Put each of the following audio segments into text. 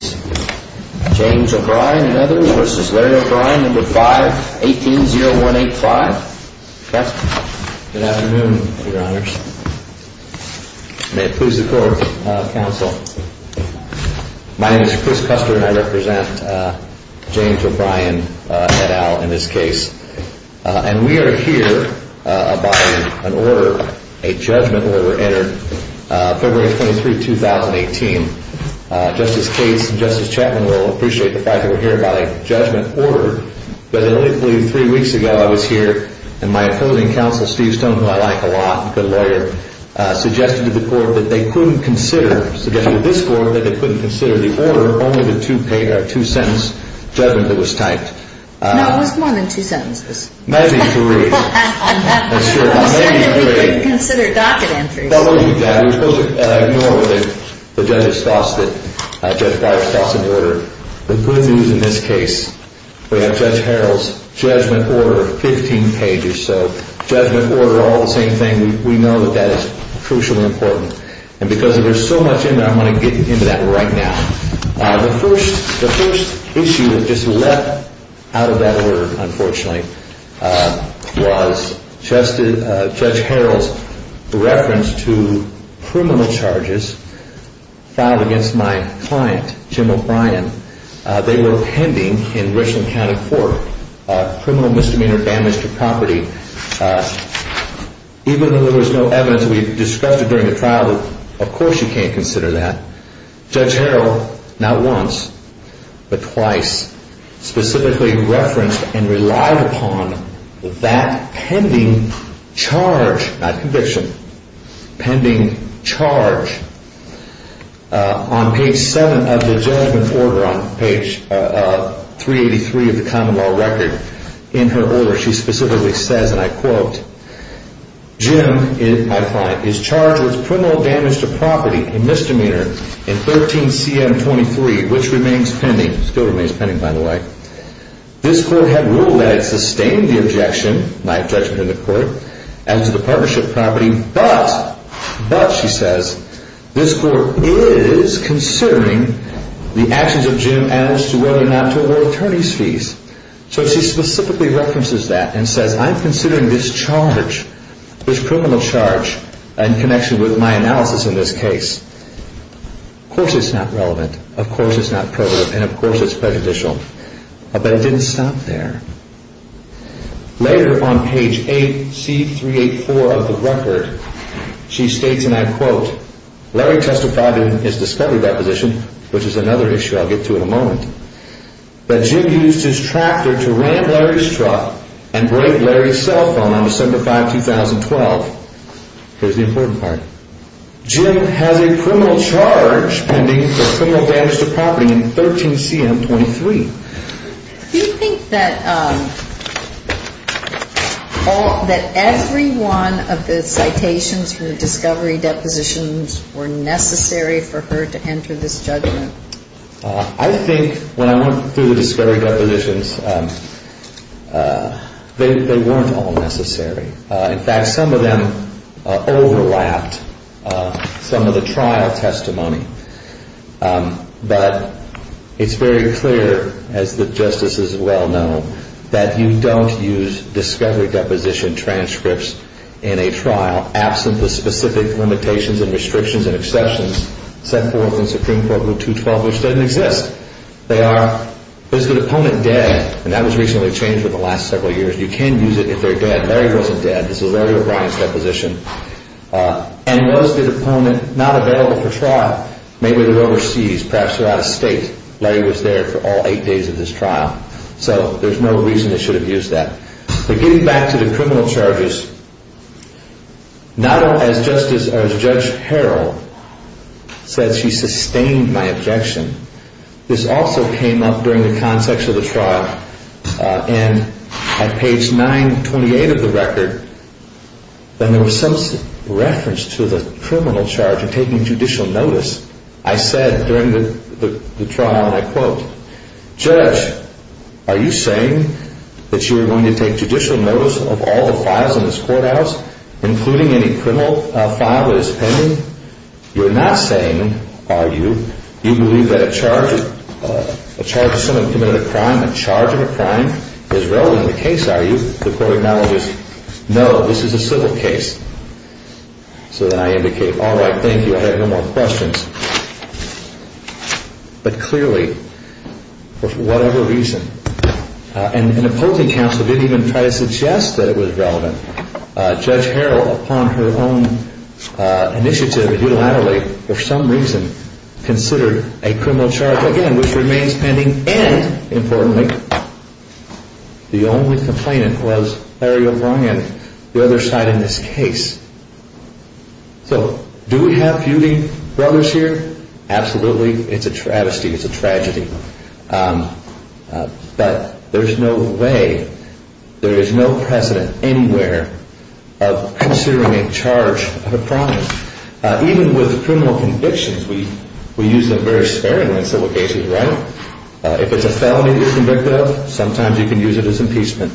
James O'Brien and others v. Larry O'Brien, No. 5, 18-0185. Good afternoon, Your Honors. May it please the Court, Counsel. My name is Chris Custer and I represent James O'Brien et al. in this case. And we are here by an order, a judgment order, entered February 23, 2018. Justice Cates and Justice Chapman will appreciate the fact that we're here by a judgment order. But I believe three weeks ago I was here and my opposing counsel, Steve Stone, who I like a lot, a good lawyer, suggested to the Court that they couldn't consider, suggested to this Court that they couldn't consider the order, only the two-sentence judgment that was typed. No, it was more than two sentences. Maybe three. He said that we couldn't consider docket entries. We're supposed to ignore the judge's thoughts, Judge Breyer's thoughts on the order. The good news in this case, we have Judge Harrell's judgment order, 15 pages. So judgment order, all the same thing, we know that that is crucially important. And because there's so much in there, I'm going to get into that right now. The first issue that just leapt out of that order, unfortunately, was Judge Harrell's reference to criminal charges filed against my client, Jim O'Brien. They were pending in Richland County Court, criminal misdemeanor damage to property. Even though there was no evidence, we discussed it during the trial, of course you can't consider that. Judge Harrell, not once, but twice, specifically referenced and relied upon that pending charge, not conviction, pending charge on page 7 of the judgment order, on page 383 of the Commonwealth Record. In her order, she specifically says, and I quote, Jim, my client, is charged with criminal damage to property, a misdemeanor, in 13CM23, which remains pending. Still remains pending, by the way. This court had ruled that it sustained the objection, my objection to the court, as to the partnership property, but, but, she says, this court is considering the actions of Jim as to whether or not to award attorney's fees. So she specifically references that, and says, I'm considering this charge, this criminal charge, in connection with my analysis in this case. Of course it's not relevant, of course it's not prohibitive, and of course it's prejudicial. But it didn't stop there. Later, on page 8C384 of the record, she states, and I quote, Larry testified in his discovery proposition, which is another issue I'll get to in a moment, that Jim used his tractor to ram Larry's truck and break Larry's cell phone on December 5, 2012. Here's the important part. Jim has a criminal charge pending for criminal damage to property in 13CM23. Do you think that, that every one of the citations from the discovery depositions were necessary for her to enter this judgment? I think when I went through the discovery depositions, they weren't all necessary. In fact, some of them overlapped some of the trial testimony. But it's very clear, as the justices well know, that you don't use discovery deposition transcripts in a trial, absent the specific limitations and restrictions and exceptions set forth in Supreme Court Rule 212, which doesn't exist. They are, is the deponent dead? And that was recently changed over the last several years. You can use it if they're dead. Larry wasn't dead. This is Larry O'Brien's deposition. And was the deponent not available for trial? Maybe they're overseas, perhaps they're out of state. Larry was there for all eight days of this trial. So there's no reason they should have used that. But getting back to the criminal charges, not only as Justice, as Judge Harrell said, she sustained my objection. This also came up during the context of the trial. And at page 928 of the record, when there was some reference to the criminal charge of taking judicial notice, I said during the trial, and I quote, Judge, are you saying that you're going to take judicial notice of all the files in this courthouse, including any criminal file that is pending? You're not saying, are you? You believe that a charge of someone committing a crime, a charge of a crime, is relevant to the case, are you? The court acknowledges, no, this is a civil case. So then I indicate, all right, thank you, I have no more questions. But clearly, for whatever reason, an opposing counsel didn't even try to suggest that it was relevant. Judge Harrell, upon her own initiative to do it laterally, for some reason, considered a criminal charge, again, which remains pending, and importantly, the only complainant was Larry O'Brien, the other side in this case. So do we have feuding brothers here? Absolutely. It's a travesty. It's a tragedy. But there's no way, there is no precedent anywhere of considering a charge of a crime. Even with criminal convictions, we use them very sparingly in civil cases, right? If it's a felony you're convicted of, sometimes you can use it as impeachment.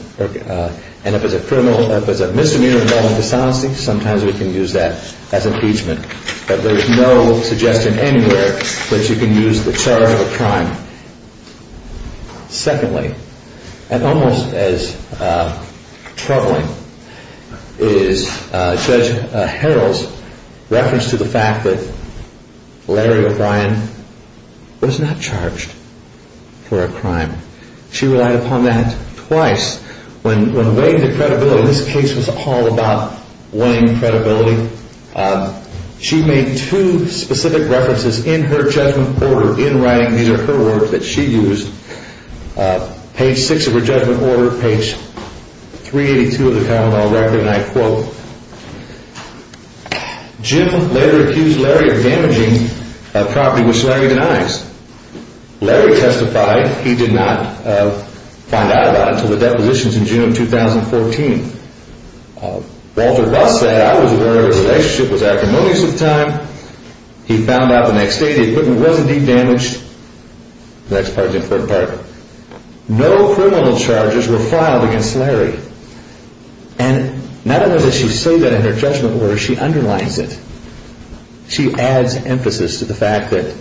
And if it's a misdemeanor involving dishonesty, sometimes we can use that as impeachment. But there's no suggestion anywhere that you can use the charge of a crime. Secondly, and almost as troubling, is Judge Harrell's reference to the fact that Larry O'Brien was not charged for a crime. She relied upon that twice. When weighing the credibility, this case was all about weighing credibility, she made two specific references in her judgment order, in writing. These are her words that she used. Page 6 of her judgment order, page 382 of the common law record, and I quote, Jim later accused Larry of damaging property, which Larry denies. Larry testified he did not find out about it until the depositions in June of 2014. Walter Russ said, I was aware the relationship was acrimonious at the time. He found out the next day the equipment wasn't deep damaged. The next part is the important part. No criminal charges were filed against Larry. And not only does she say that in her judgment order, she underlines it. She adds emphasis to the fact that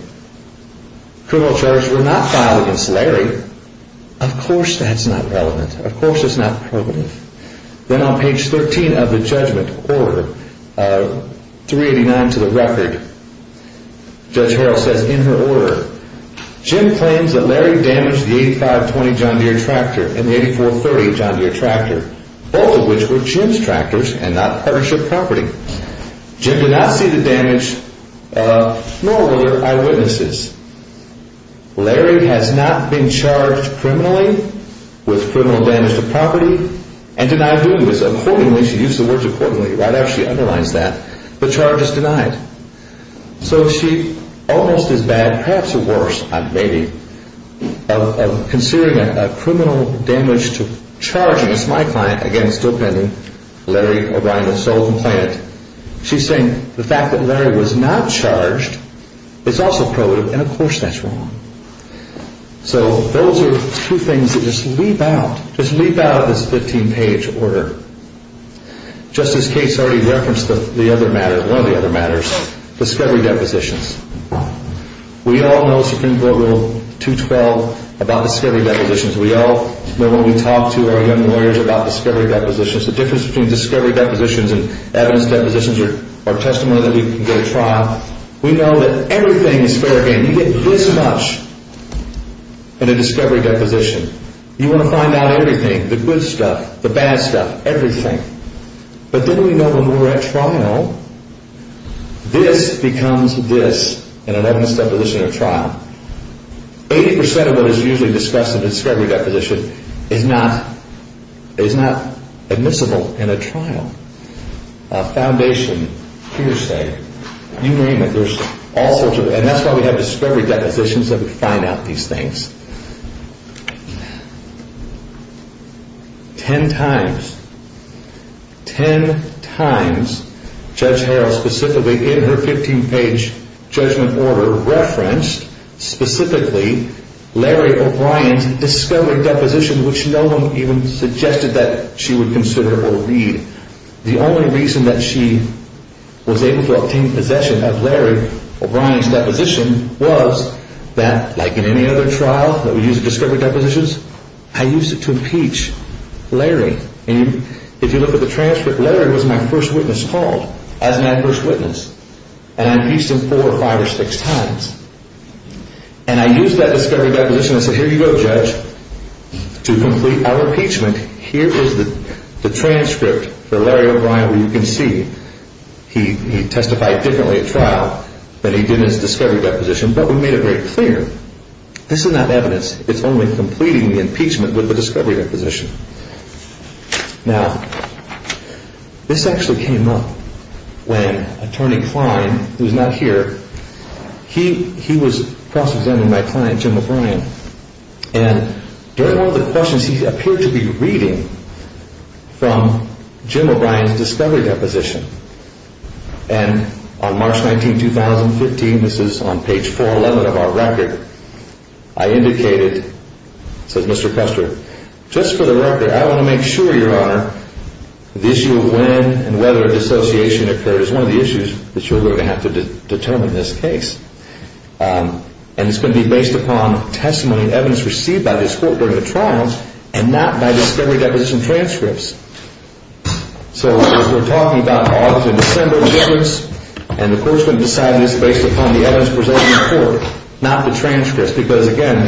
criminal charges were not filed against Larry. Of course that's not relevant. Then on page 13 of the judgment order, 389 to the record, Judge Harrell says in her order, Jim claims that Larry damaged the 8520 John Deere tractor and the 8430 John Deere tractor, both of which were Jim's tractors and not partnership property. Jim did not see the damage, nor were there eyewitnesses. Larry has not been charged criminally with criminal damage to property and denied doing so. Accordingly, she used the word accordingly right after she underlines that. The charge is denied. So she almost is bad, perhaps or worse, maybe, of considering a criminal damage to charging, it's my client, again, still pending, Larry O'Brien, the sole complainant. She's saying the fact that Larry was not charged is also probative, and of course that's wrong. So those are two things that just leap out, just leap out of this 15-page order. Justice Cates already referenced one of the other matters, discovery depositions. We all know Supreme Court Rule 212 about discovery depositions. We all know when we talk to our young lawyers about discovery depositions, the difference between discovery depositions and evidence depositions are testimony that we can go to trial. We know that everything is fair game. You get this much in a discovery deposition. You want to find out everything, the good stuff, the bad stuff, everything. But then we know when we're at trial, this becomes this in an evidence deposition or trial. Eighty percent of what is usually discussed in a discovery deposition is not admissible in a trial. A foundation, hearsay, you name it, there's all sorts of, and that's why we have discovery depositions that would find out these things. Ten times, ten times Judge Harrell specifically in her 15-page judgment order referenced specifically Larry O'Brien's discovery deposition, which no one even suggested that she would consider or read. The only reason that she was able to obtain possession of Larry O'Brien's deposition was that, like in any other trial that we use discovery depositions, I used it to impeach Larry. And if you look at the transcript, Larry was my first witness called as my first witness. And I impeached him four or five or six times. And I used that discovery deposition and said, here you go, Judge, to complete our impeachment. Here is the transcript for Larry O'Brien where you can see he testified differently at trial than he did in his discovery deposition, but we made it very clear this is not evidence. It's only completing the impeachment with the discovery deposition. Now, this actually came up when Attorney Klein, who is not here, he was cross-examining my client, Jim O'Brien. And during one of the questions, he appeared to be reading from Jim O'Brien's discovery deposition. And on March 19, 2015, this is on page 411 of our record, I indicated, says Mr. Kuster, just for the record, I want to make sure, Your Honor, the issue of when and whether dissociation occurs is one of the issues that you're going to have to determine in this case. And it's going to be based upon testimony and evidence received by this court during the trial and not by discovery deposition transcripts. So as we're talking about August and December difference, and the court's going to decide this based upon the evidence presented before, not the transcripts. Because, again,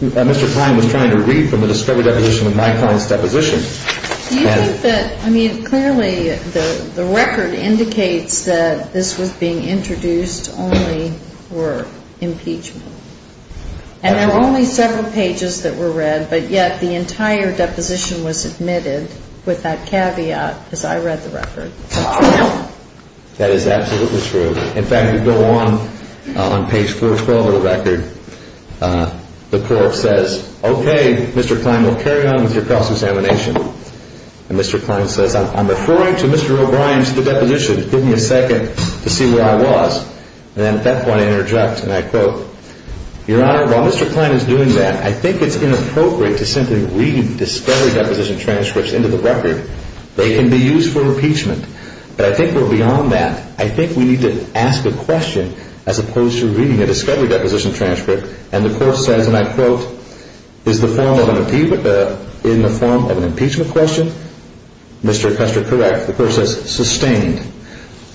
Mr. Klein was trying to read from the discovery deposition of my client's deposition. Do you think that, I mean, clearly the record indicates that this was being introduced only for impeachment. And there are only several pages that were read, but yet the entire deposition was admitted with that caveat because I read the record. That is absolutely true. In fact, we go on, on page 412 of the record, the court says, Okay, Mr. Klein, we'll carry on with your cross-examination. And Mr. Klein says, I'm referring to Mr. O'Brien's deposition. Give me a second to see where I was. And at that point I interject, and I quote, Your Honor, while Mr. Klein is doing that, I think it's inappropriate to simply read discovery deposition transcripts into the record. They can be used for impeachment. But I think we're beyond that. I think we need to ask a question as opposed to reading a discovery deposition transcript. And the court says, and I quote, Is the form of an impeachment question? Mr. Custer, correct. The court says, sustained.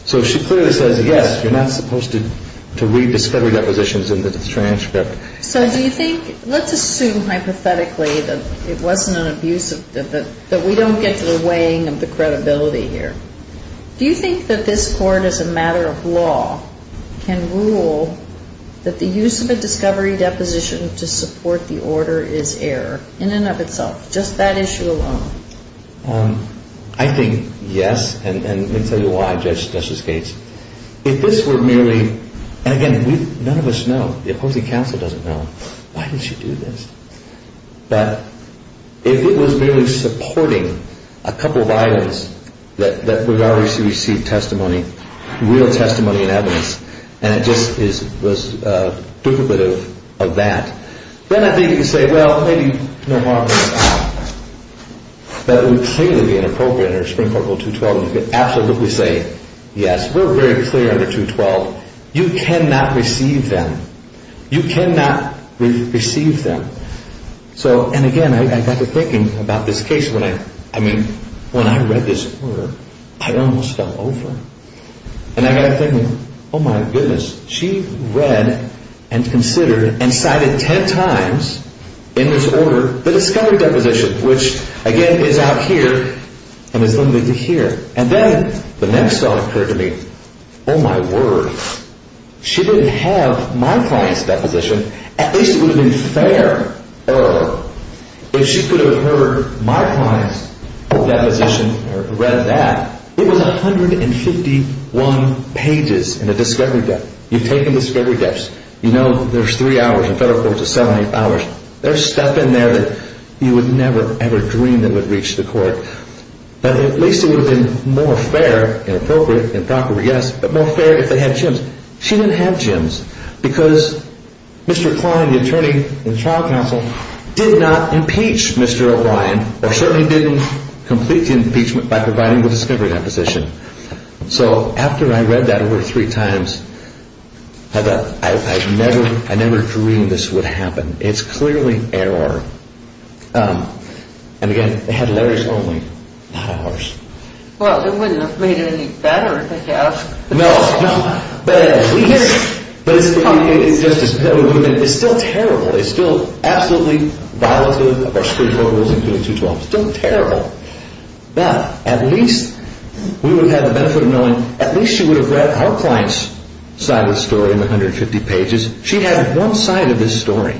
So she clearly says, yes, you're not supposed to read discovery depositions into the transcript. So do you think, let's assume hypothetically that it wasn't an abuse, that we don't get to the weighing of the credibility here. Do you think that this court as a matter of law can rule that the use of a discovery deposition to support the order is error in and of itself, just that issue alone? I think yes, and let me tell you why, Justice Gates. If this were merely, and again, none of us know. The opposing counsel doesn't know. Why did she do this? But if it was merely supporting a couple of items that we've already received testimony, real testimony and evidence, and it just was duplicative of that, then I think you could say, well, maybe no harm in that. That would clearly be inappropriate under Supreme Court Rule 212. You could absolutely say, yes, we're very clear under 212. You cannot receive them. You cannot receive them. So, and again, I got to thinking about this case when I, I mean, when I read this order, I almost fell over. And I got to thinking, oh, my goodness. She read and considered and cited ten times in this order the discovery deposition, which, again, is out here and is limited to here. And then the next thought occurred to me, oh, my word. She didn't have my client's deposition. At least it would have been fairer if she could have heard my client's deposition or read that. It was 151 pages in a discovery debt. You've taken discovery debts. You know there's three hours in federal courts, there's seven, eight hours. There's stuff in there that you would never, ever dream that would reach the court. But at least it would have been more fair and appropriate and proper, yes, but more fair if they had Jims. She didn't have Jims because Mr. Klein, the attorney in trial counsel, did not impeach Mr. O'Brien or certainly didn't complete the impeachment by providing the discovery deposition. So after I read that over three times, I never dreamed this would happen. It's clearly error. And, again, it had letters only, not hours. Well, it wouldn't have made it any better, I guess. No, no. But it's still terrible. It's still absolutely violative of our Supreme Court rules, including 212. It's still terrible. But at least we would have had the benefit of knowing, at least she would have read our client's side of the story in the 150 pages. She had one side of this story,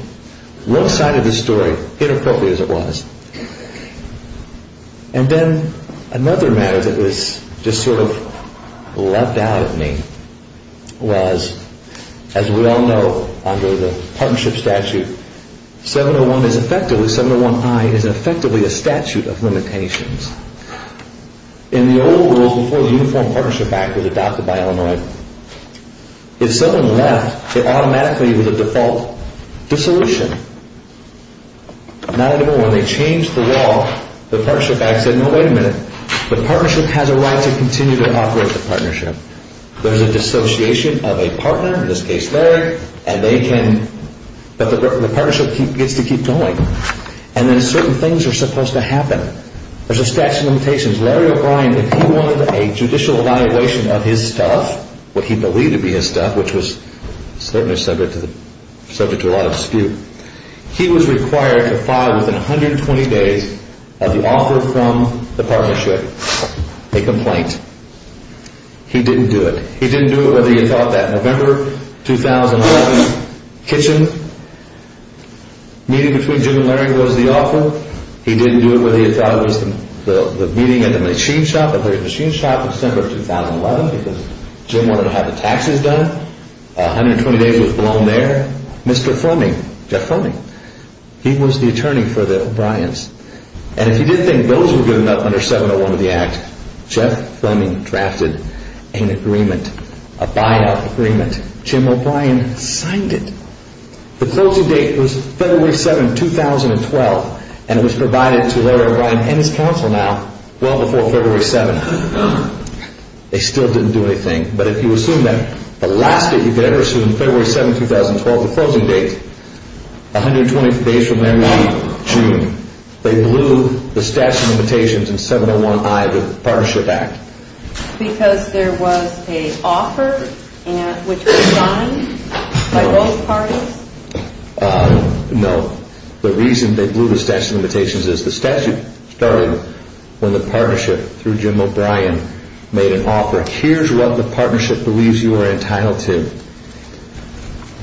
one side of this story, inappropriate as it was. And then another matter that was just sort of leapt out at me was, as we all know under the partnership statute, 701 is effectively, 701I is effectively a statute of limitations. In the old world, before the Uniform Partnership Act was adopted by Illinois, if someone left, it automatically was a default dissolution. Not anymore. When they changed the law, the partnership act said, no, wait a minute. The partnership has a right to continue to operate the partnership. There's a dissociation of a partner, in this case Larry, and they can, but the partnership gets to keep going. And then certain things are supposed to happen. There's a statute of limitations. Larry O'Brien, if he wanted a judicial evaluation of his stuff, what he believed to be his stuff, which was certainly subject to a lot of dispute, he was required to file within 120 days of the offer from the partnership a complaint. He didn't do it. He didn't do it whether he thought that November 2011 kitchen meeting between Jim and Larry was the offer. He didn't do it whether he thought it was the meeting at the machine shop, because Jim wanted to have the taxes done. 120 days was blown there. Mr. Fleming, Jeff Fleming, he was the attorney for the O'Briens. And if he did think those were good enough under 701 of the act, Jeff Fleming drafted an agreement, a buyout agreement. Jim O'Brien signed it. The closing date was February 7, 2012, and it was provided to Larry O'Brien and his counsel now well before February 7. They still didn't do anything. But if you assume that the last date you could ever assume, February 7, 2012, the closing date, 120 days from there would be June. They blew the statute of limitations in 701I of the Partnership Act. Because there was an offer which was signed by both parties? No. The reason they blew the statute of limitations is the statute started when the partnership through Jim O'Brien made an offer. Here's what the partnership believes you are entitled to.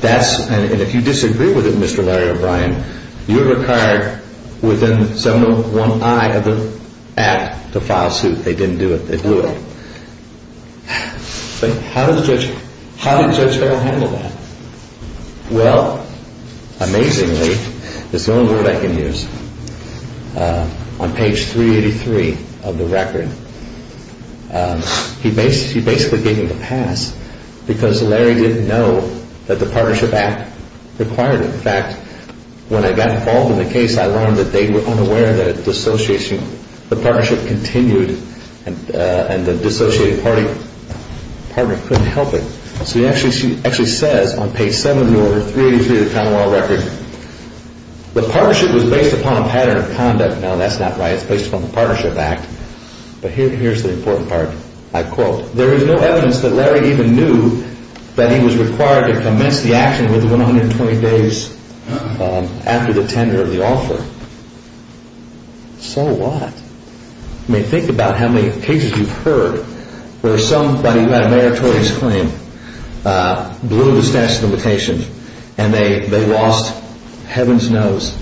And if you disagree with it, Mr. Larry O'Brien, you're required within 701I of the act to file suit. They didn't do it. They blew it. But how did the judge ever handle that? Well, amazingly, it's the only word I can use. On page 383 of the record, he basically gave me the pass because Larry didn't know that the Partnership Act required it. In fact, when I got involved in the case, I learned that they were unaware that the partnership continued and the dissociated partner couldn't help it. So he actually says on page 7 of the order, 383 of the Commonwealth Record, the partnership was based upon a pattern of conduct. Now, that's not right. It's based upon the Partnership Act. But here's the important part. I quote, there is no evidence that Larry even knew that he was required to commence the action within 120 days after the tender of the offer. So what? I mean, think about how many cases you've heard where somebody who had a meritorious claim blew the statute of limitations and they lost heaven's knows.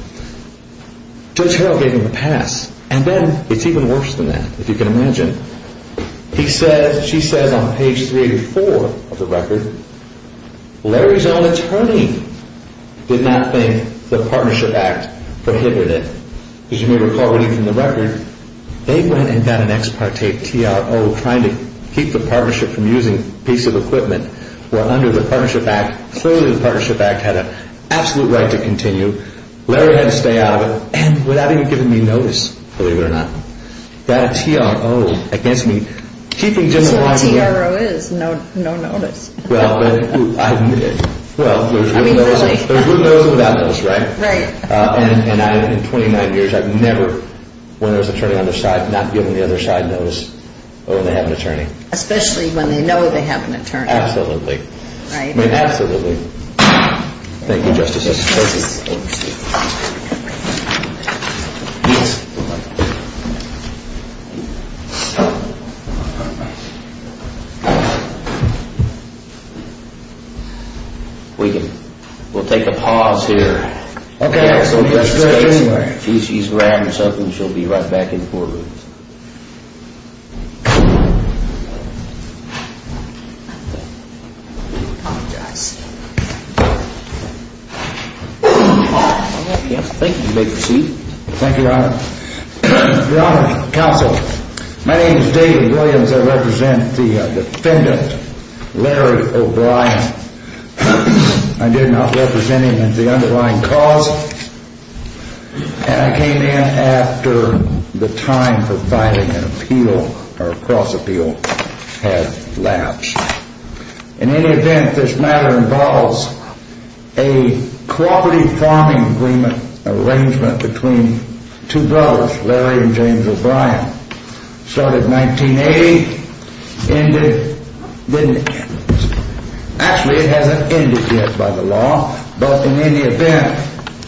Judge Harrell gave him the pass. And then it's even worse than that, if you can imagine. He says, she says on page 384 of the record, Larry's own attorney did not think the Partnership Act prohibited it. As you may recall reading from the record, they went and got an ex parte TRO trying to keep the partnership from using a piece of equipment. Well, under the Partnership Act, clearly the Partnership Act had an absolute right to continue. Larry had to stay out of it and without even giving me notice, believe it or not, got a TRO against me. That's what a TRO is, no notice. Well, there's with notice and without notice, right? Right. And in 29 years, I've never, when there's an attorney on their side, not given the other side notice when they have an attorney. Especially when they know they have an attorney. Absolutely. Right. Thank you, Justices. Thank you. We can, we'll take a pause here. Okay. She's grabbed herself and she'll be right back in court. Thank you. You may proceed. Thank you, Your Honor. Your Honor, Counsel. My name is David Williams. I represent the defendant, Larry O'Brien. I did not represent him at the underlying cause. And I came in after the time for filing an appeal or a cross appeal had lapsed. In any event, this matter involves a cooperative farming agreement, arrangement between two brothers, Larry and James O'Brien. Started in 1980, ended, didn't, actually it hasn't ended yet by the law. But in any event,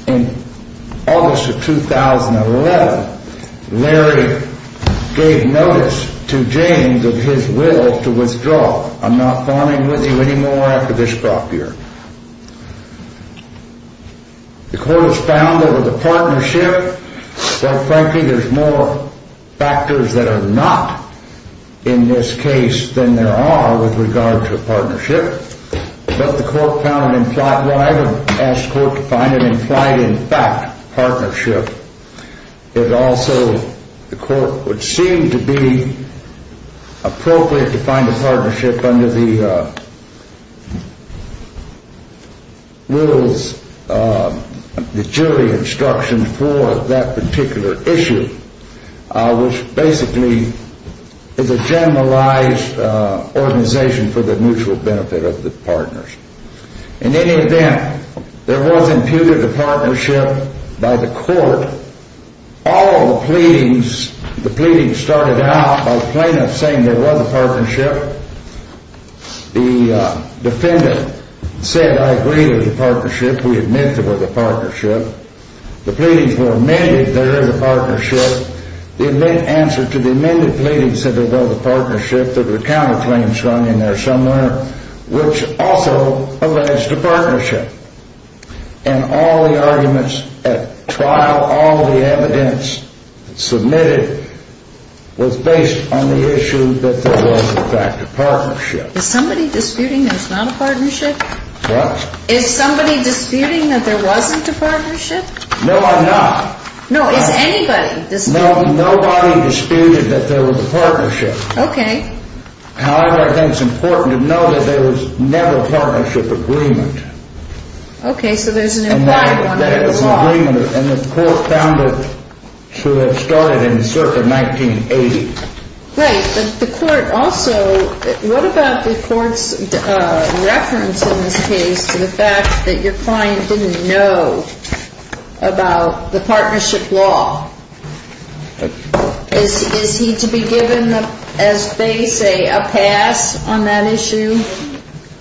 in August of 2011, Larry gave notice to James of his will to withdraw. I'm not fawning with you anymore after this crop year. The court was found that with a partnership, well, frankly, there's more factors that are not in this case than there are with regard to a partnership. But the court found it implied, well, I haven't asked the court to find it implied, in fact, partnership. It also, the court would seem to be appropriate to find a partnership under the wills, the jury instruction for that particular issue, which basically is a generalized organization for the mutual benefit of the partners. In any event, there was imputed a partnership by the court. All the pleadings, the pleadings started out by the plaintiff saying there was a partnership. The defendant said, I agree with the partnership, we admit there was a partnership. The pleadings were amended, there is a partnership. And all the arguments at trial, all the evidence submitted was based on the issue that there was, in fact, a partnership. Is somebody disputing there's not a partnership? What? Is somebody disputing that there wasn't a partnership? No, I'm not. No, is anybody disputing that? No, nobody disputed that there was a partnership. Okay. However, I think it's important to know that there was never a partnership agreement. Okay, so there's an implied one that it was not. And the court found it to have started in circa 1980. Right, but the court also, what about the court's reference in this case to the fact that your client didn't know about the partnership law? Is he to be given, as they say, a pass on that issue?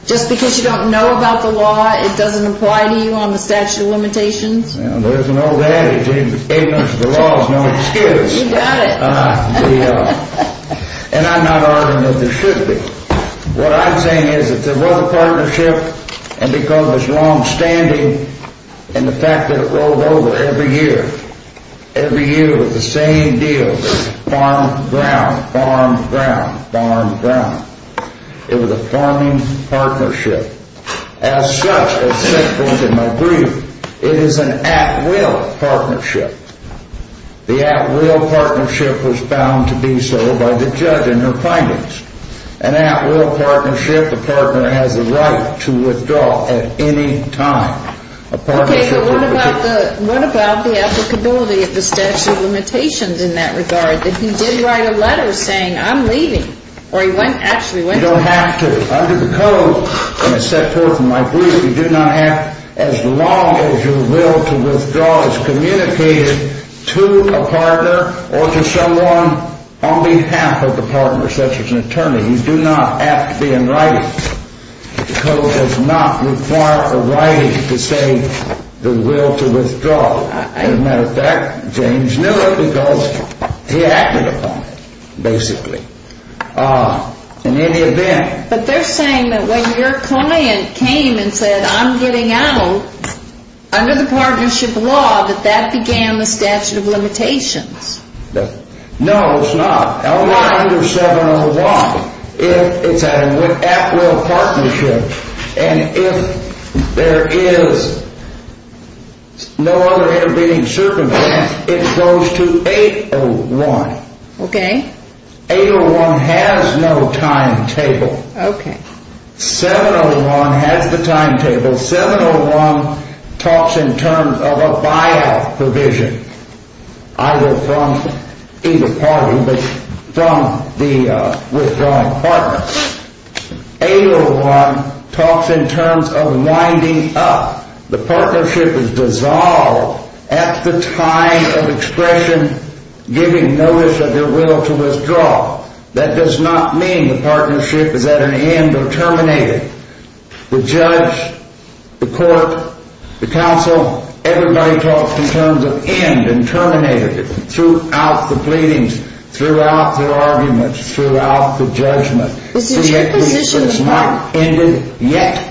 Just because you don't know about the law, it doesn't apply to you on the statute of limitations? Well, there's an old adage, ignorance of the law is no excuse. You got it. And I'm not arguing that there should be. What I'm saying is that there was a partnership, and because it's longstanding, and the fact that it rolled over every year. Every year it was the same deal, farm, ground, farm, ground, farm, ground. It was a farming partnership. As such, as said both in my brief, it is an at-will partnership. The at-will partnership was found to be so by the judge in her findings. An at-will partnership, the partner has the right to withdraw at any time. Okay, but what about the applicability of the statute of limitations in that regard? That he did write a letter saying, I'm leaving. You don't have to. Under the code, as said both in my brief, you do not have as long as your will to withdraw is communicated to a partner or to someone on behalf of the partner, such as an attorney. You do not have to be in writing. The code does not require a writing to say the will to withdraw. As a matter of fact, James knew it because he acted upon it, basically. In any event. But they're saying that when your client came and said, I'm getting out, under the partnership law that that began the statute of limitations. No, it's not. Not under 701. It's an at-will partnership. And if there is no other intervening circumstance, it goes to 801. Okay. 801 has no timetable. Okay. 701 has the timetable. 701 talks in terms of a buyout provision. Either from either party, but from the withdrawing partner. 801 talks in terms of winding up. The partnership is dissolved at the time of expression giving notice of your will to withdraw. That does not mean the partnership is at an end or terminated. The judge, the court, the counsel, everybody talks in terms of end and terminated. Throughout the pleadings, throughout the arguments, throughout the judgment. It's not ended yet.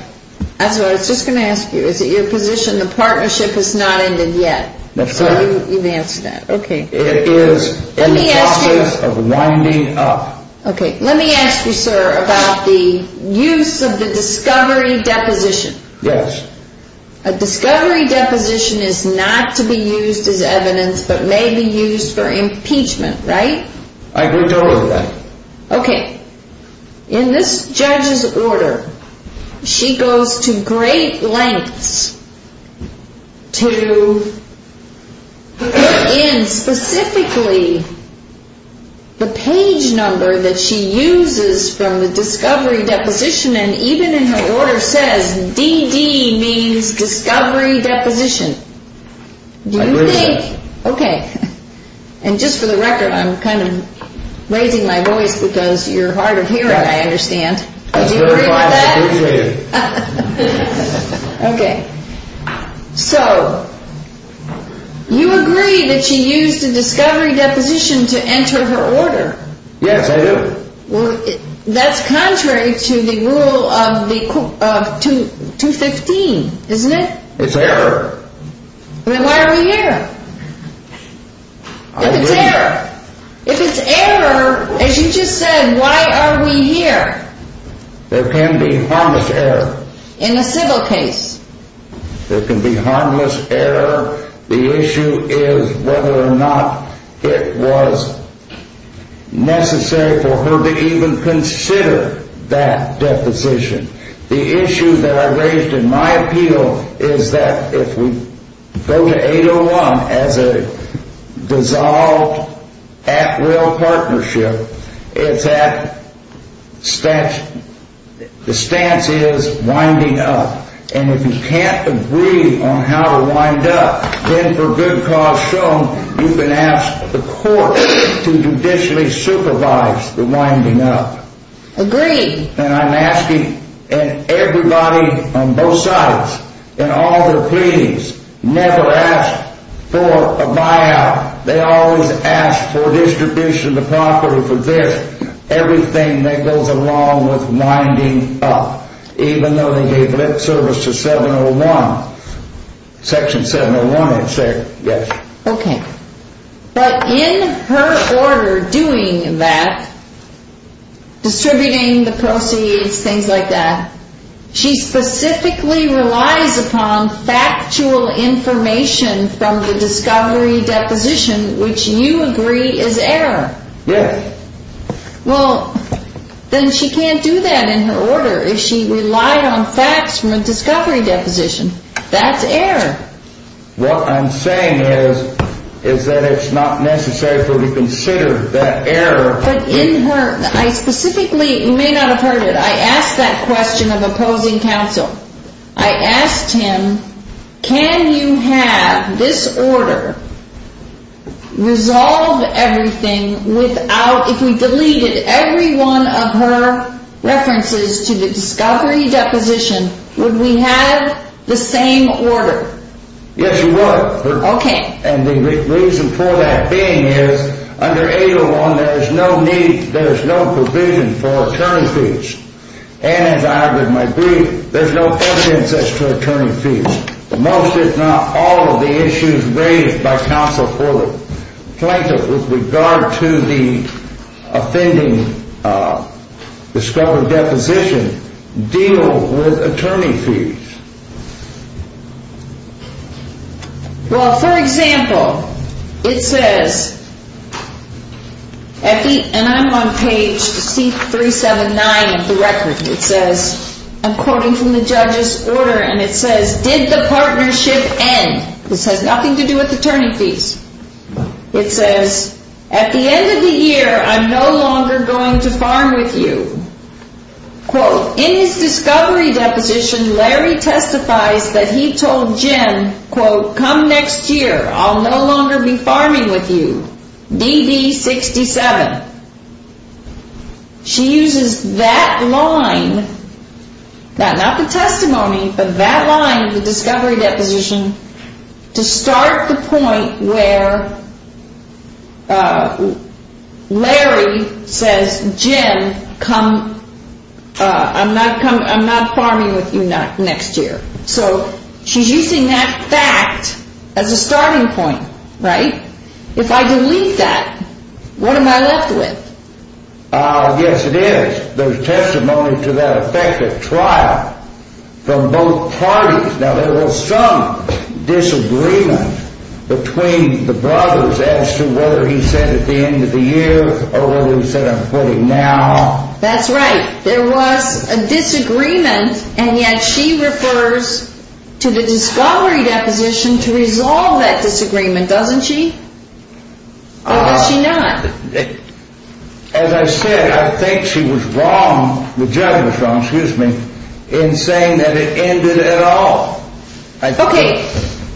That's what I was just going to ask you. Is it your position the partnership has not ended yet? That's right. You've answered that. Okay. It is in the process of winding up. Okay. Let me ask you, sir, about the use of the discovery deposition. Yes. A discovery deposition is not to be used as evidence, but may be used for impeachment, right? I agree totally with that. Okay. In this judge's order, she goes to great lengths to put in specifically the page number that she uses from the discovery deposition. And even in her order says DD means discovery deposition. I agree with that. Okay. And just for the record, I'm kind of raising my voice because you're hard of hearing, I understand. Do you agree with that? Okay. So you agree that she used a discovery deposition to enter her order? Yes, I do. That's contrary to the rule of 215, isn't it? It's there. Then why are we here? If it's error, as you just said, why are we here? There can be harmless error. In a civil case. There can be harmless error. The issue is whether or not it was necessary for her to even consider that deposition. The issue that I raised in my appeal is that if we go to 801 as a dissolved at-will partnership, the stance is winding up. And if you can't agree on how to wind up, then for good cause shown, you can ask the court to judicially supervise the winding up. Agreed. And I'm asking everybody on both sides in all their pleadings, never ask for a buyout. They always ask for distribution of the property, for this, everything that goes along with winding up, even though they gave lip service to 701. Section 701 is there, yes. Okay. But in her order doing that, distributing the proceeds, things like that, she specifically relies upon factual information from the discovery deposition, which you agree is error. Yes. Well, then she can't do that in her order if she relied on facts from a discovery deposition. That's error. What I'm saying is, is that it's not necessary for you to consider that error. But in her, I specifically, you may not have heard it, I asked that question of opposing counsel. I asked him, can you have this order resolve everything without, if we deleted every one of her references to the discovery deposition, would we have the same order? Yes, you would. Okay. And the reason for that being is, under 801, there is no need, there is no provision for attorney fees. And as I, with my brief, there's no evidence as to attorney fees. Most, if not all, of the issues raised by counsel for the plaintiff with regard to the offending discovery deposition deal with attorney fees. Well, for example, it says, and I'm on page C379 of the record, it says, I'm quoting from the judge's order, and it says, did the partnership end? This has nothing to do with attorney fees. It says, at the end of the year, I'm no longer going to farm with you. Quote, in his discovery deposition, Larry testifies that he told Jim, quote, come next year, I'll no longer be farming with you, DD67. She uses that line, not the testimony, but that line, the discovery deposition, to start the point where Larry says, Jim, come, I'm not farming with you next year. So she's using that fact as a starting point, right? If I delete that, what am I left with? Yes, it is. There's testimony to that effect at trial from both parties. Now, there was some disagreement between the brothers as to whether he said, at the end of the year, or whether he said, I'm quitting now. That's right. There was a disagreement, and yet she refers to the discovery deposition to resolve that disagreement, doesn't she? Or was she not? As I said, I think she was wrong, the judge was wrong, excuse me, in saying that it ended at all. Okay.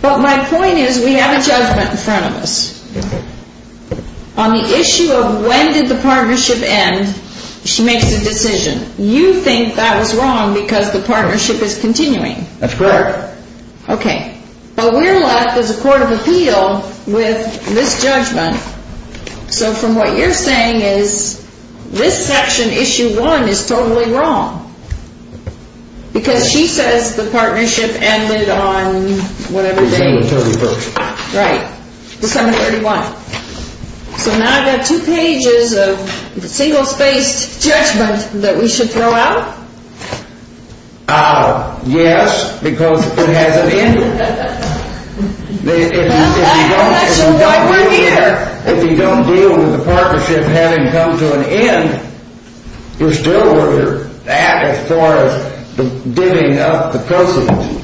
But my point is, we have a judgment in front of us. On the issue of when did the partnership end, she makes a decision. You think that was wrong because the partnership is continuing. That's correct. Okay. But we're left as a court of appeal with this judgment. So from what you're saying is, this section, issue one, is totally wrong. Because she says the partnership ended on whatever date. December 31st. Right. December 31st. So now I've got two pages of single-spaced judgment that we should throw out? Yes, because it hasn't ended. That's why we're here. If you don't deal with the partnership having come to an end, you're still where you're at as far as divvying up the proceeds.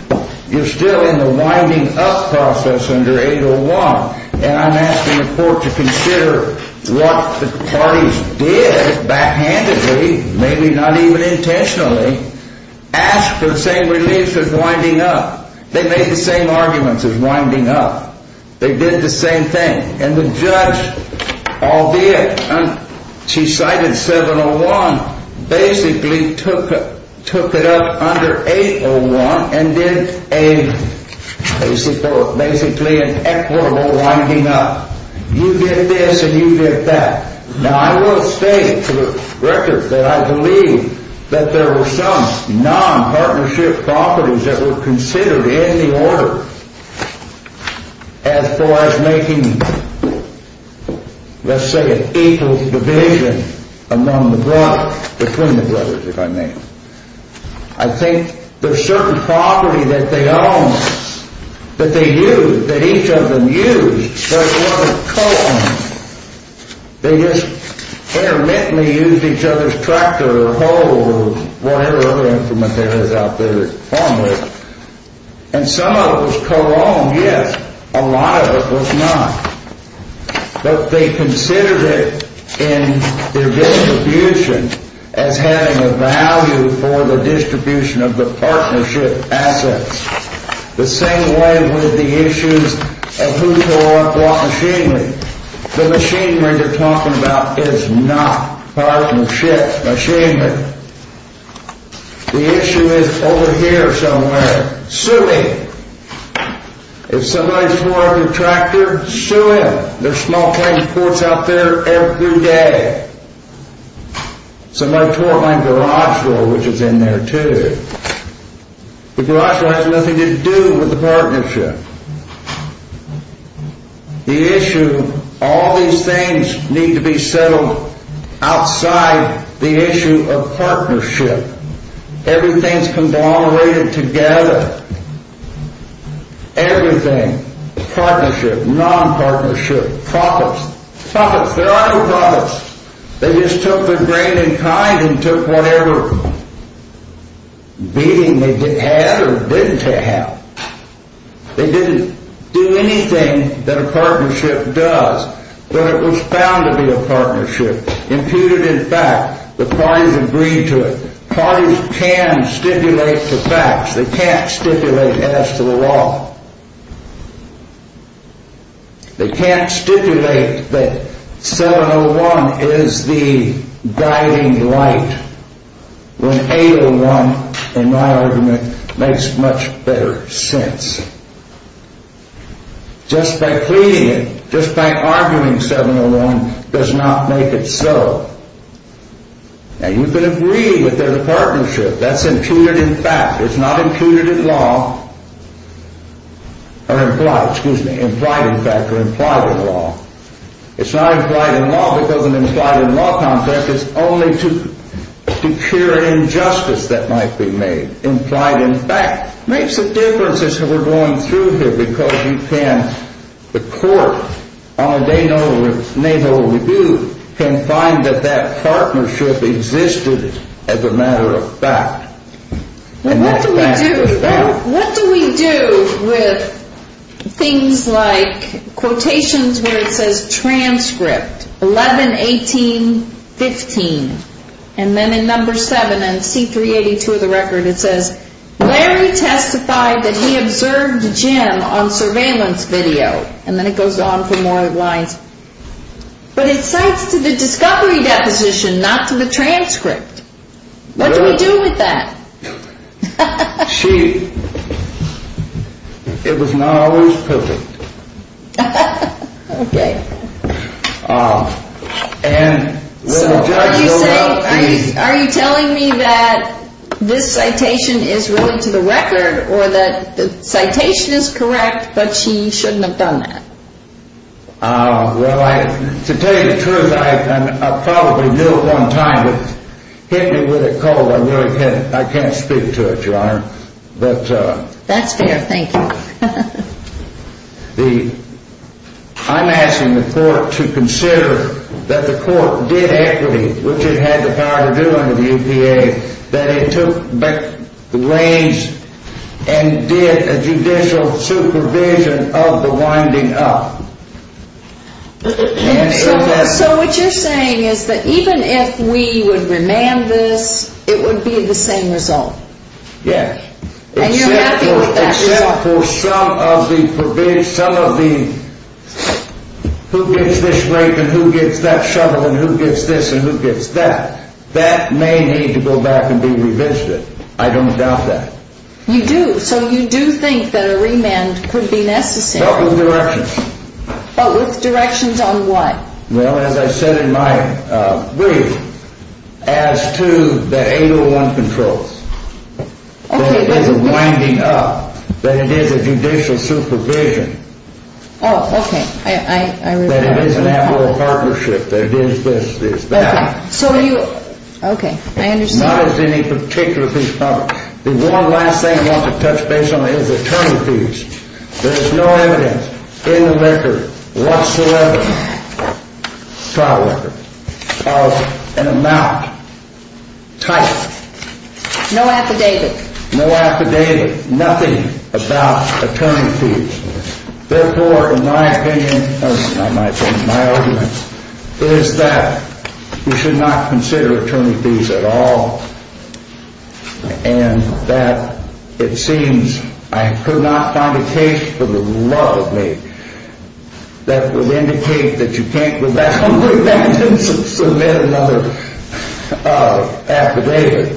You're still in the winding up process under 801. And I'm asking the court to consider what the parties did backhandedly, maybe not even intentionally, asked for the same relief as winding up. They made the same arguments as winding up. They did the same thing. And the judge all did. She cited 701, basically took it up under 801 and did basically an equitable winding up. You did this and you did that. Now, I will state for the record that I believe that there were some non-partnership properties that were considered in the order as far as making, let's say, an equal division among the brothers, between the brothers, if I may. I think there's certain property that they owned, that they used, that each of them used, that were co-owned. They just intermittently used each other's tractor or hoe or whatever other instrument there is out there to farm with. And some of it was co-owned, yes. A lot of it was not. But they considered it in their distribution as having a value for the distribution of the partnership assets. The same way with the issues of who tore up what machinery. The machinery they're talking about is not partnership machinery. The issue is over here somewhere, suing. If somebody tore up your tractor, sue him. There's small claim courts out there every day. Somebody tore up my garage door, which is in there, too. The garage door has nothing to do with the partnership. The issue, all these things need to be settled outside the issue of partnership. Everything's conglomerated together. Everything, partnership, non-partnership, profits. Profits, there are no profits. They just took their grain in kind and took whatever beating they had or didn't have. They didn't do anything that a partnership does, but it was found to be a partnership, imputed in fact. The parties agreed to it. Parties can stipulate the facts. They can't stipulate as to the law. They can't stipulate that 701 is the guiding light when 801, in my argument, makes much better sense. Just by cleaning it, just by arguing 701, does not make it so. Now, you can agree that there's a partnership. That's imputed in fact. It's not imputed in law, or implied, excuse me, implied in fact or implied in law. It's not implied in law because an implied in law contract is only to cure an injustice that might be made. Implied in fact. It makes a difference as we're going through here because you can, the court, on a day note of its natal review, can find that that partnership existed as a matter of fact. What do we do, what do we do with things like quotations where it says transcript, 11, 18, 15, and then in number 7 in C382 of the record it says, Larry testified that he observed Jim on surveillance video. And then it goes on for more lines. But it cites to the discovery deposition, not to the transcript. What do we do with that? She, it was not always perfect. Okay. So are you saying, are you telling me that this citation is really to the record or that the citation is correct but she shouldn't have done that? Well, to tell you the truth, I probably knew at one time but hit me with a cold. I really can't, I can't speak to it, Your Honor. That's fair, thank you. The, I'm asking the court to consider that the court did equity, which it had the power to do under the EPA, that it took back the reins and did a judicial supervision of the winding up. So what you're saying is that even if we would remand this, it would be the same result? Yes. And you're happy with that result? Except for some of the, some of the, who gets this rape and who gets that shovel and who gets this and who gets that. That may need to go back and be revisited. I don't doubt that. You do? So you do think that a remand could be necessary? But with directions. But with directions on what? Well, as I said in my brief, as to the 801 controls. Okay. That it is a winding up, that it is a judicial supervision. Oh, okay. I, I, I realize that. That it is an admiral partnership, that it is this, it is that. Okay. So you, okay, I understand. Not as any particular thing. The one last thing I want to touch base on is attorney fees. There's no evidence in the record whatsoever, trial record, of an amount, type. No affidavit. No affidavit. Nothing about attorney fees. Therefore, in my opinion, my opinion, my argument, is that you should not consider attorney fees at all. And that it seems, I could not find a case for the love of me, that would indicate that you can't go back on remand and submit another affidavit.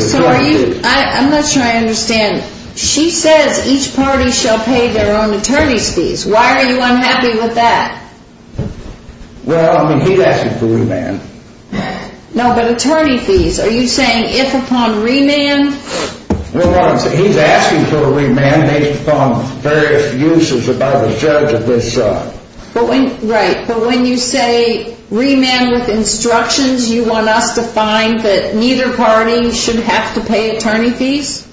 So are you, I'm not sure I understand. She says each party shall pay their own attorney's fees. Why are you unhappy with that? Well, I mean, he's asking for remand. No, but attorney fees, are you saying if upon remand? Well, he's asking for remand based upon various uses by the judge of this. Right, but when you say remand with instructions, you want us to find that neither party should have to pay attorney fees?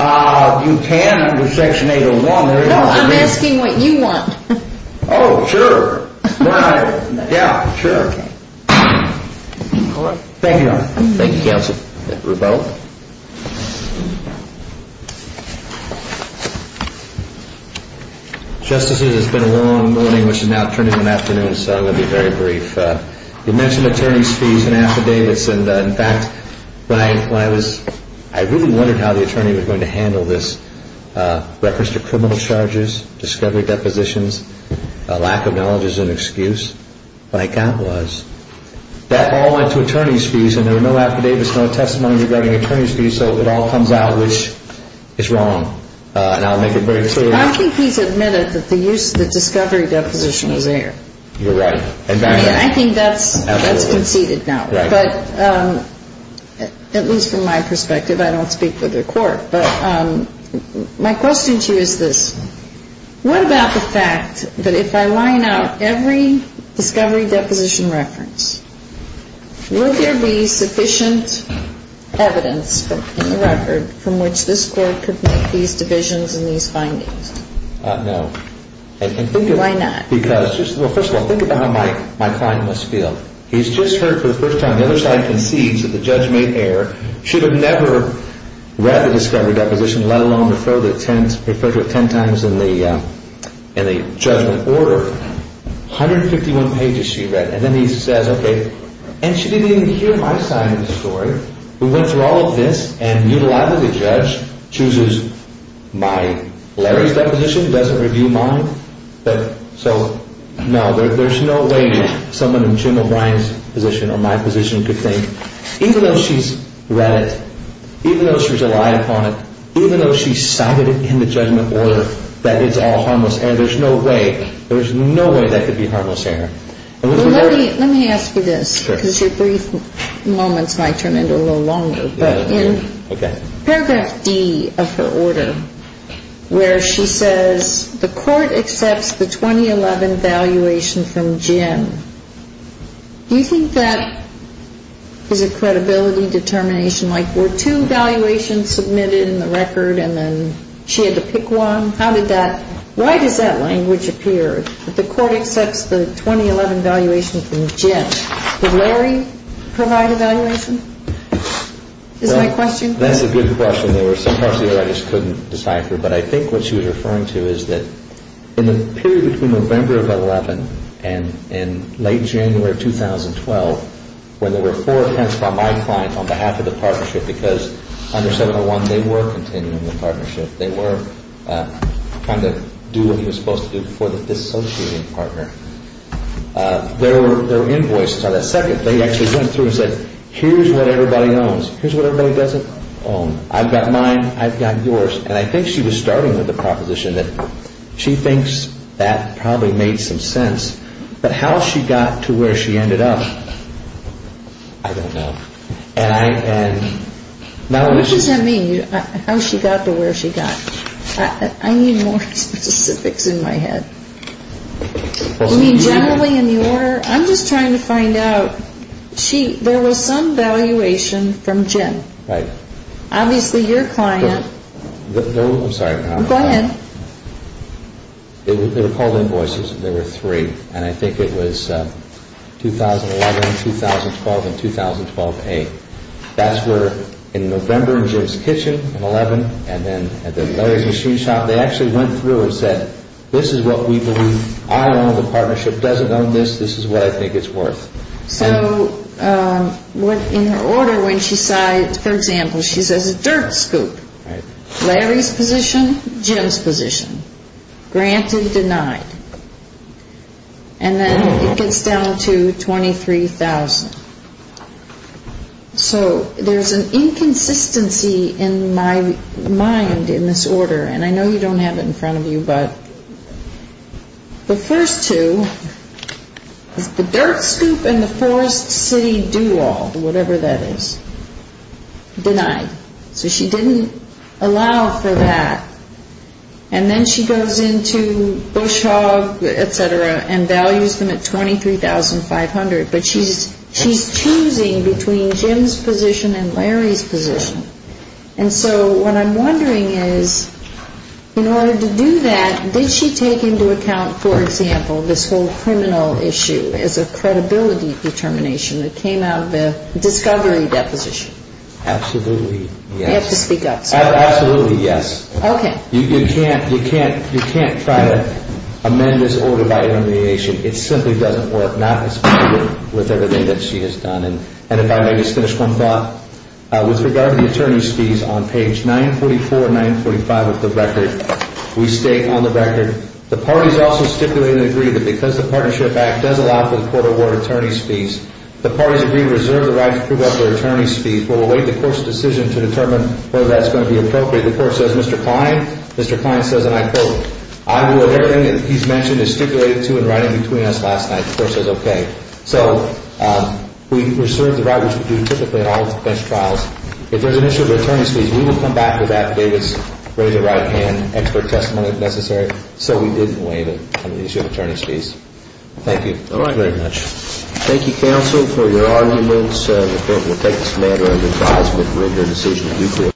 You can under section 801. No, I'm asking what you want. Oh, sure. Yeah, sure. Thank you, Your Honor. Thank you, Counsel. We're both. Justices, it's been a long morning, which is now turning to an afternoon, so I'm going to be very brief. You mentioned attorney's fees and affidavits, and in fact, when I was, I really wondered how the attorney was going to handle this. Reference to criminal charges, discovery depositions, lack of knowledge is an excuse. Like that was. That all went to attorney's fees, and there were no affidavits, no testimonies regarding attorney's fees, so it all comes out, which is wrong. And I'll make it very clear. I think he's admitted that the use of the discovery deposition was there. You're right. I mean, I think that's conceded now. Right. But at least from my perspective, I don't speak for the court. My question to you is this. What about the fact that if I line out every discovery deposition reference, will there be sufficient evidence in the record from which this court could make these divisions and these findings? No. Why not? Because, well, first of all, think about how my client must feel. He's just heard for the first time the other side concedes that the judge made error, should have never read the discovery deposition, let alone refer to it ten times in the judgment order. 151 pages she read. And then he says, okay. And she didn't even hear my side of the story. We went through all of this, and mutilated the judge, chooses my, Larry's deposition, doesn't review mine. So, no, there's no way someone in Jim O'Brien's position or my position could think, even though she's read it, even though she's relied upon it, even though she cited it in the judgment order, that it's all harmless. And there's no way, there's no way that could be harmless to her. Let me ask you this, because your brief moments might turn into a little longer. Okay. Paragraph D of her order, where she says, the court accepts the 2011 valuation from Jim. Do you think that is a credibility determination? Like, were two valuations submitted in the record, and then she had to pick one? How did that, why does that language appear, that the court accepts the 2011 valuation from Jim? Did Larry provide a valuation? Is that a question? That's a good question. There were some parts of the order I just couldn't decipher. But I think what she was referring to is that in the period between November of 2011 and late January of 2012, when there were four attempts by my client on behalf of the partnership, because under 701, they were continuing the partnership. They were trying to do what he was supposed to do before the dissociating partner. There were invoices. On the second, they actually went through and said, here's what everybody owns. Here's what everybody doesn't own. I've got mine. I've got yours. And I think she was starting with the proposition that she thinks that probably made some sense. But how she got to where she ended up, I don't know. What does that mean, how she got to where she got? I need more specifics in my head. You mean generally in the order? I'm just trying to find out. There was some valuation from Jim. Right. Obviously your client. I'm sorry. Go ahead. They were called invoices. There were three. And I think it was 2011, 2012, and 2012A. That's where in November in Jim's kitchen in 11, and then at the Larry's machine shop, they actually went through and said, this is what we believe. I own the partnership. It doesn't own this. This is what I think it's worth. So in her order, when she says, for example, she says a dirt scoop. Larry's position, Jim's position. Granted, denied. And then it gets down to $23,000. So there's an inconsistency in my mind in this order. And I know you don't have it in front of you, but the first two is the dirt scoop and the Forest City do-all, whatever that is, denied. So she didn't allow for that. And then she goes into Bush Hog, et cetera, and values them at $23,500. But she's choosing between Jim's position and Larry's position. And so what I'm wondering is, in order to do that, did she take into account, for example, this whole criminal issue as a credibility determination that came out of the discovery deposition? Absolutely, yes. You have to speak up. Absolutely, yes. Okay. You can't try to amend this order by elimination. It simply doesn't work. Not with everything that she has done. And if I may just finish one thought. With regard to the attorney's fees, on page 944 and 945 of the record, we state on the record, the parties also stipulate and agree that because the Partnership Act does allow for the court to award attorney's fees, the parties agree to reserve the right to prove up their attorney's fees. We'll await the court's decision to determine whether that's going to be appropriate. The court says, Mr. Klein, Mr. Klein says, and I quote, I will adhere to everything that he's mentioned and stipulated to in writing between us last night. The court says, okay. So we reserve the right, which we do typically at all defense trials. If there's an issue of attorney's fees, we will come back to that. David's raised a right hand, expert testimony if necessary. So we didn't waive it on the issue of attorney's fees. Thank you. All right. Thank you very much. Thank you, counsel, for your arguments. The court will take this matter under advisement. We'll hear a decision at due course.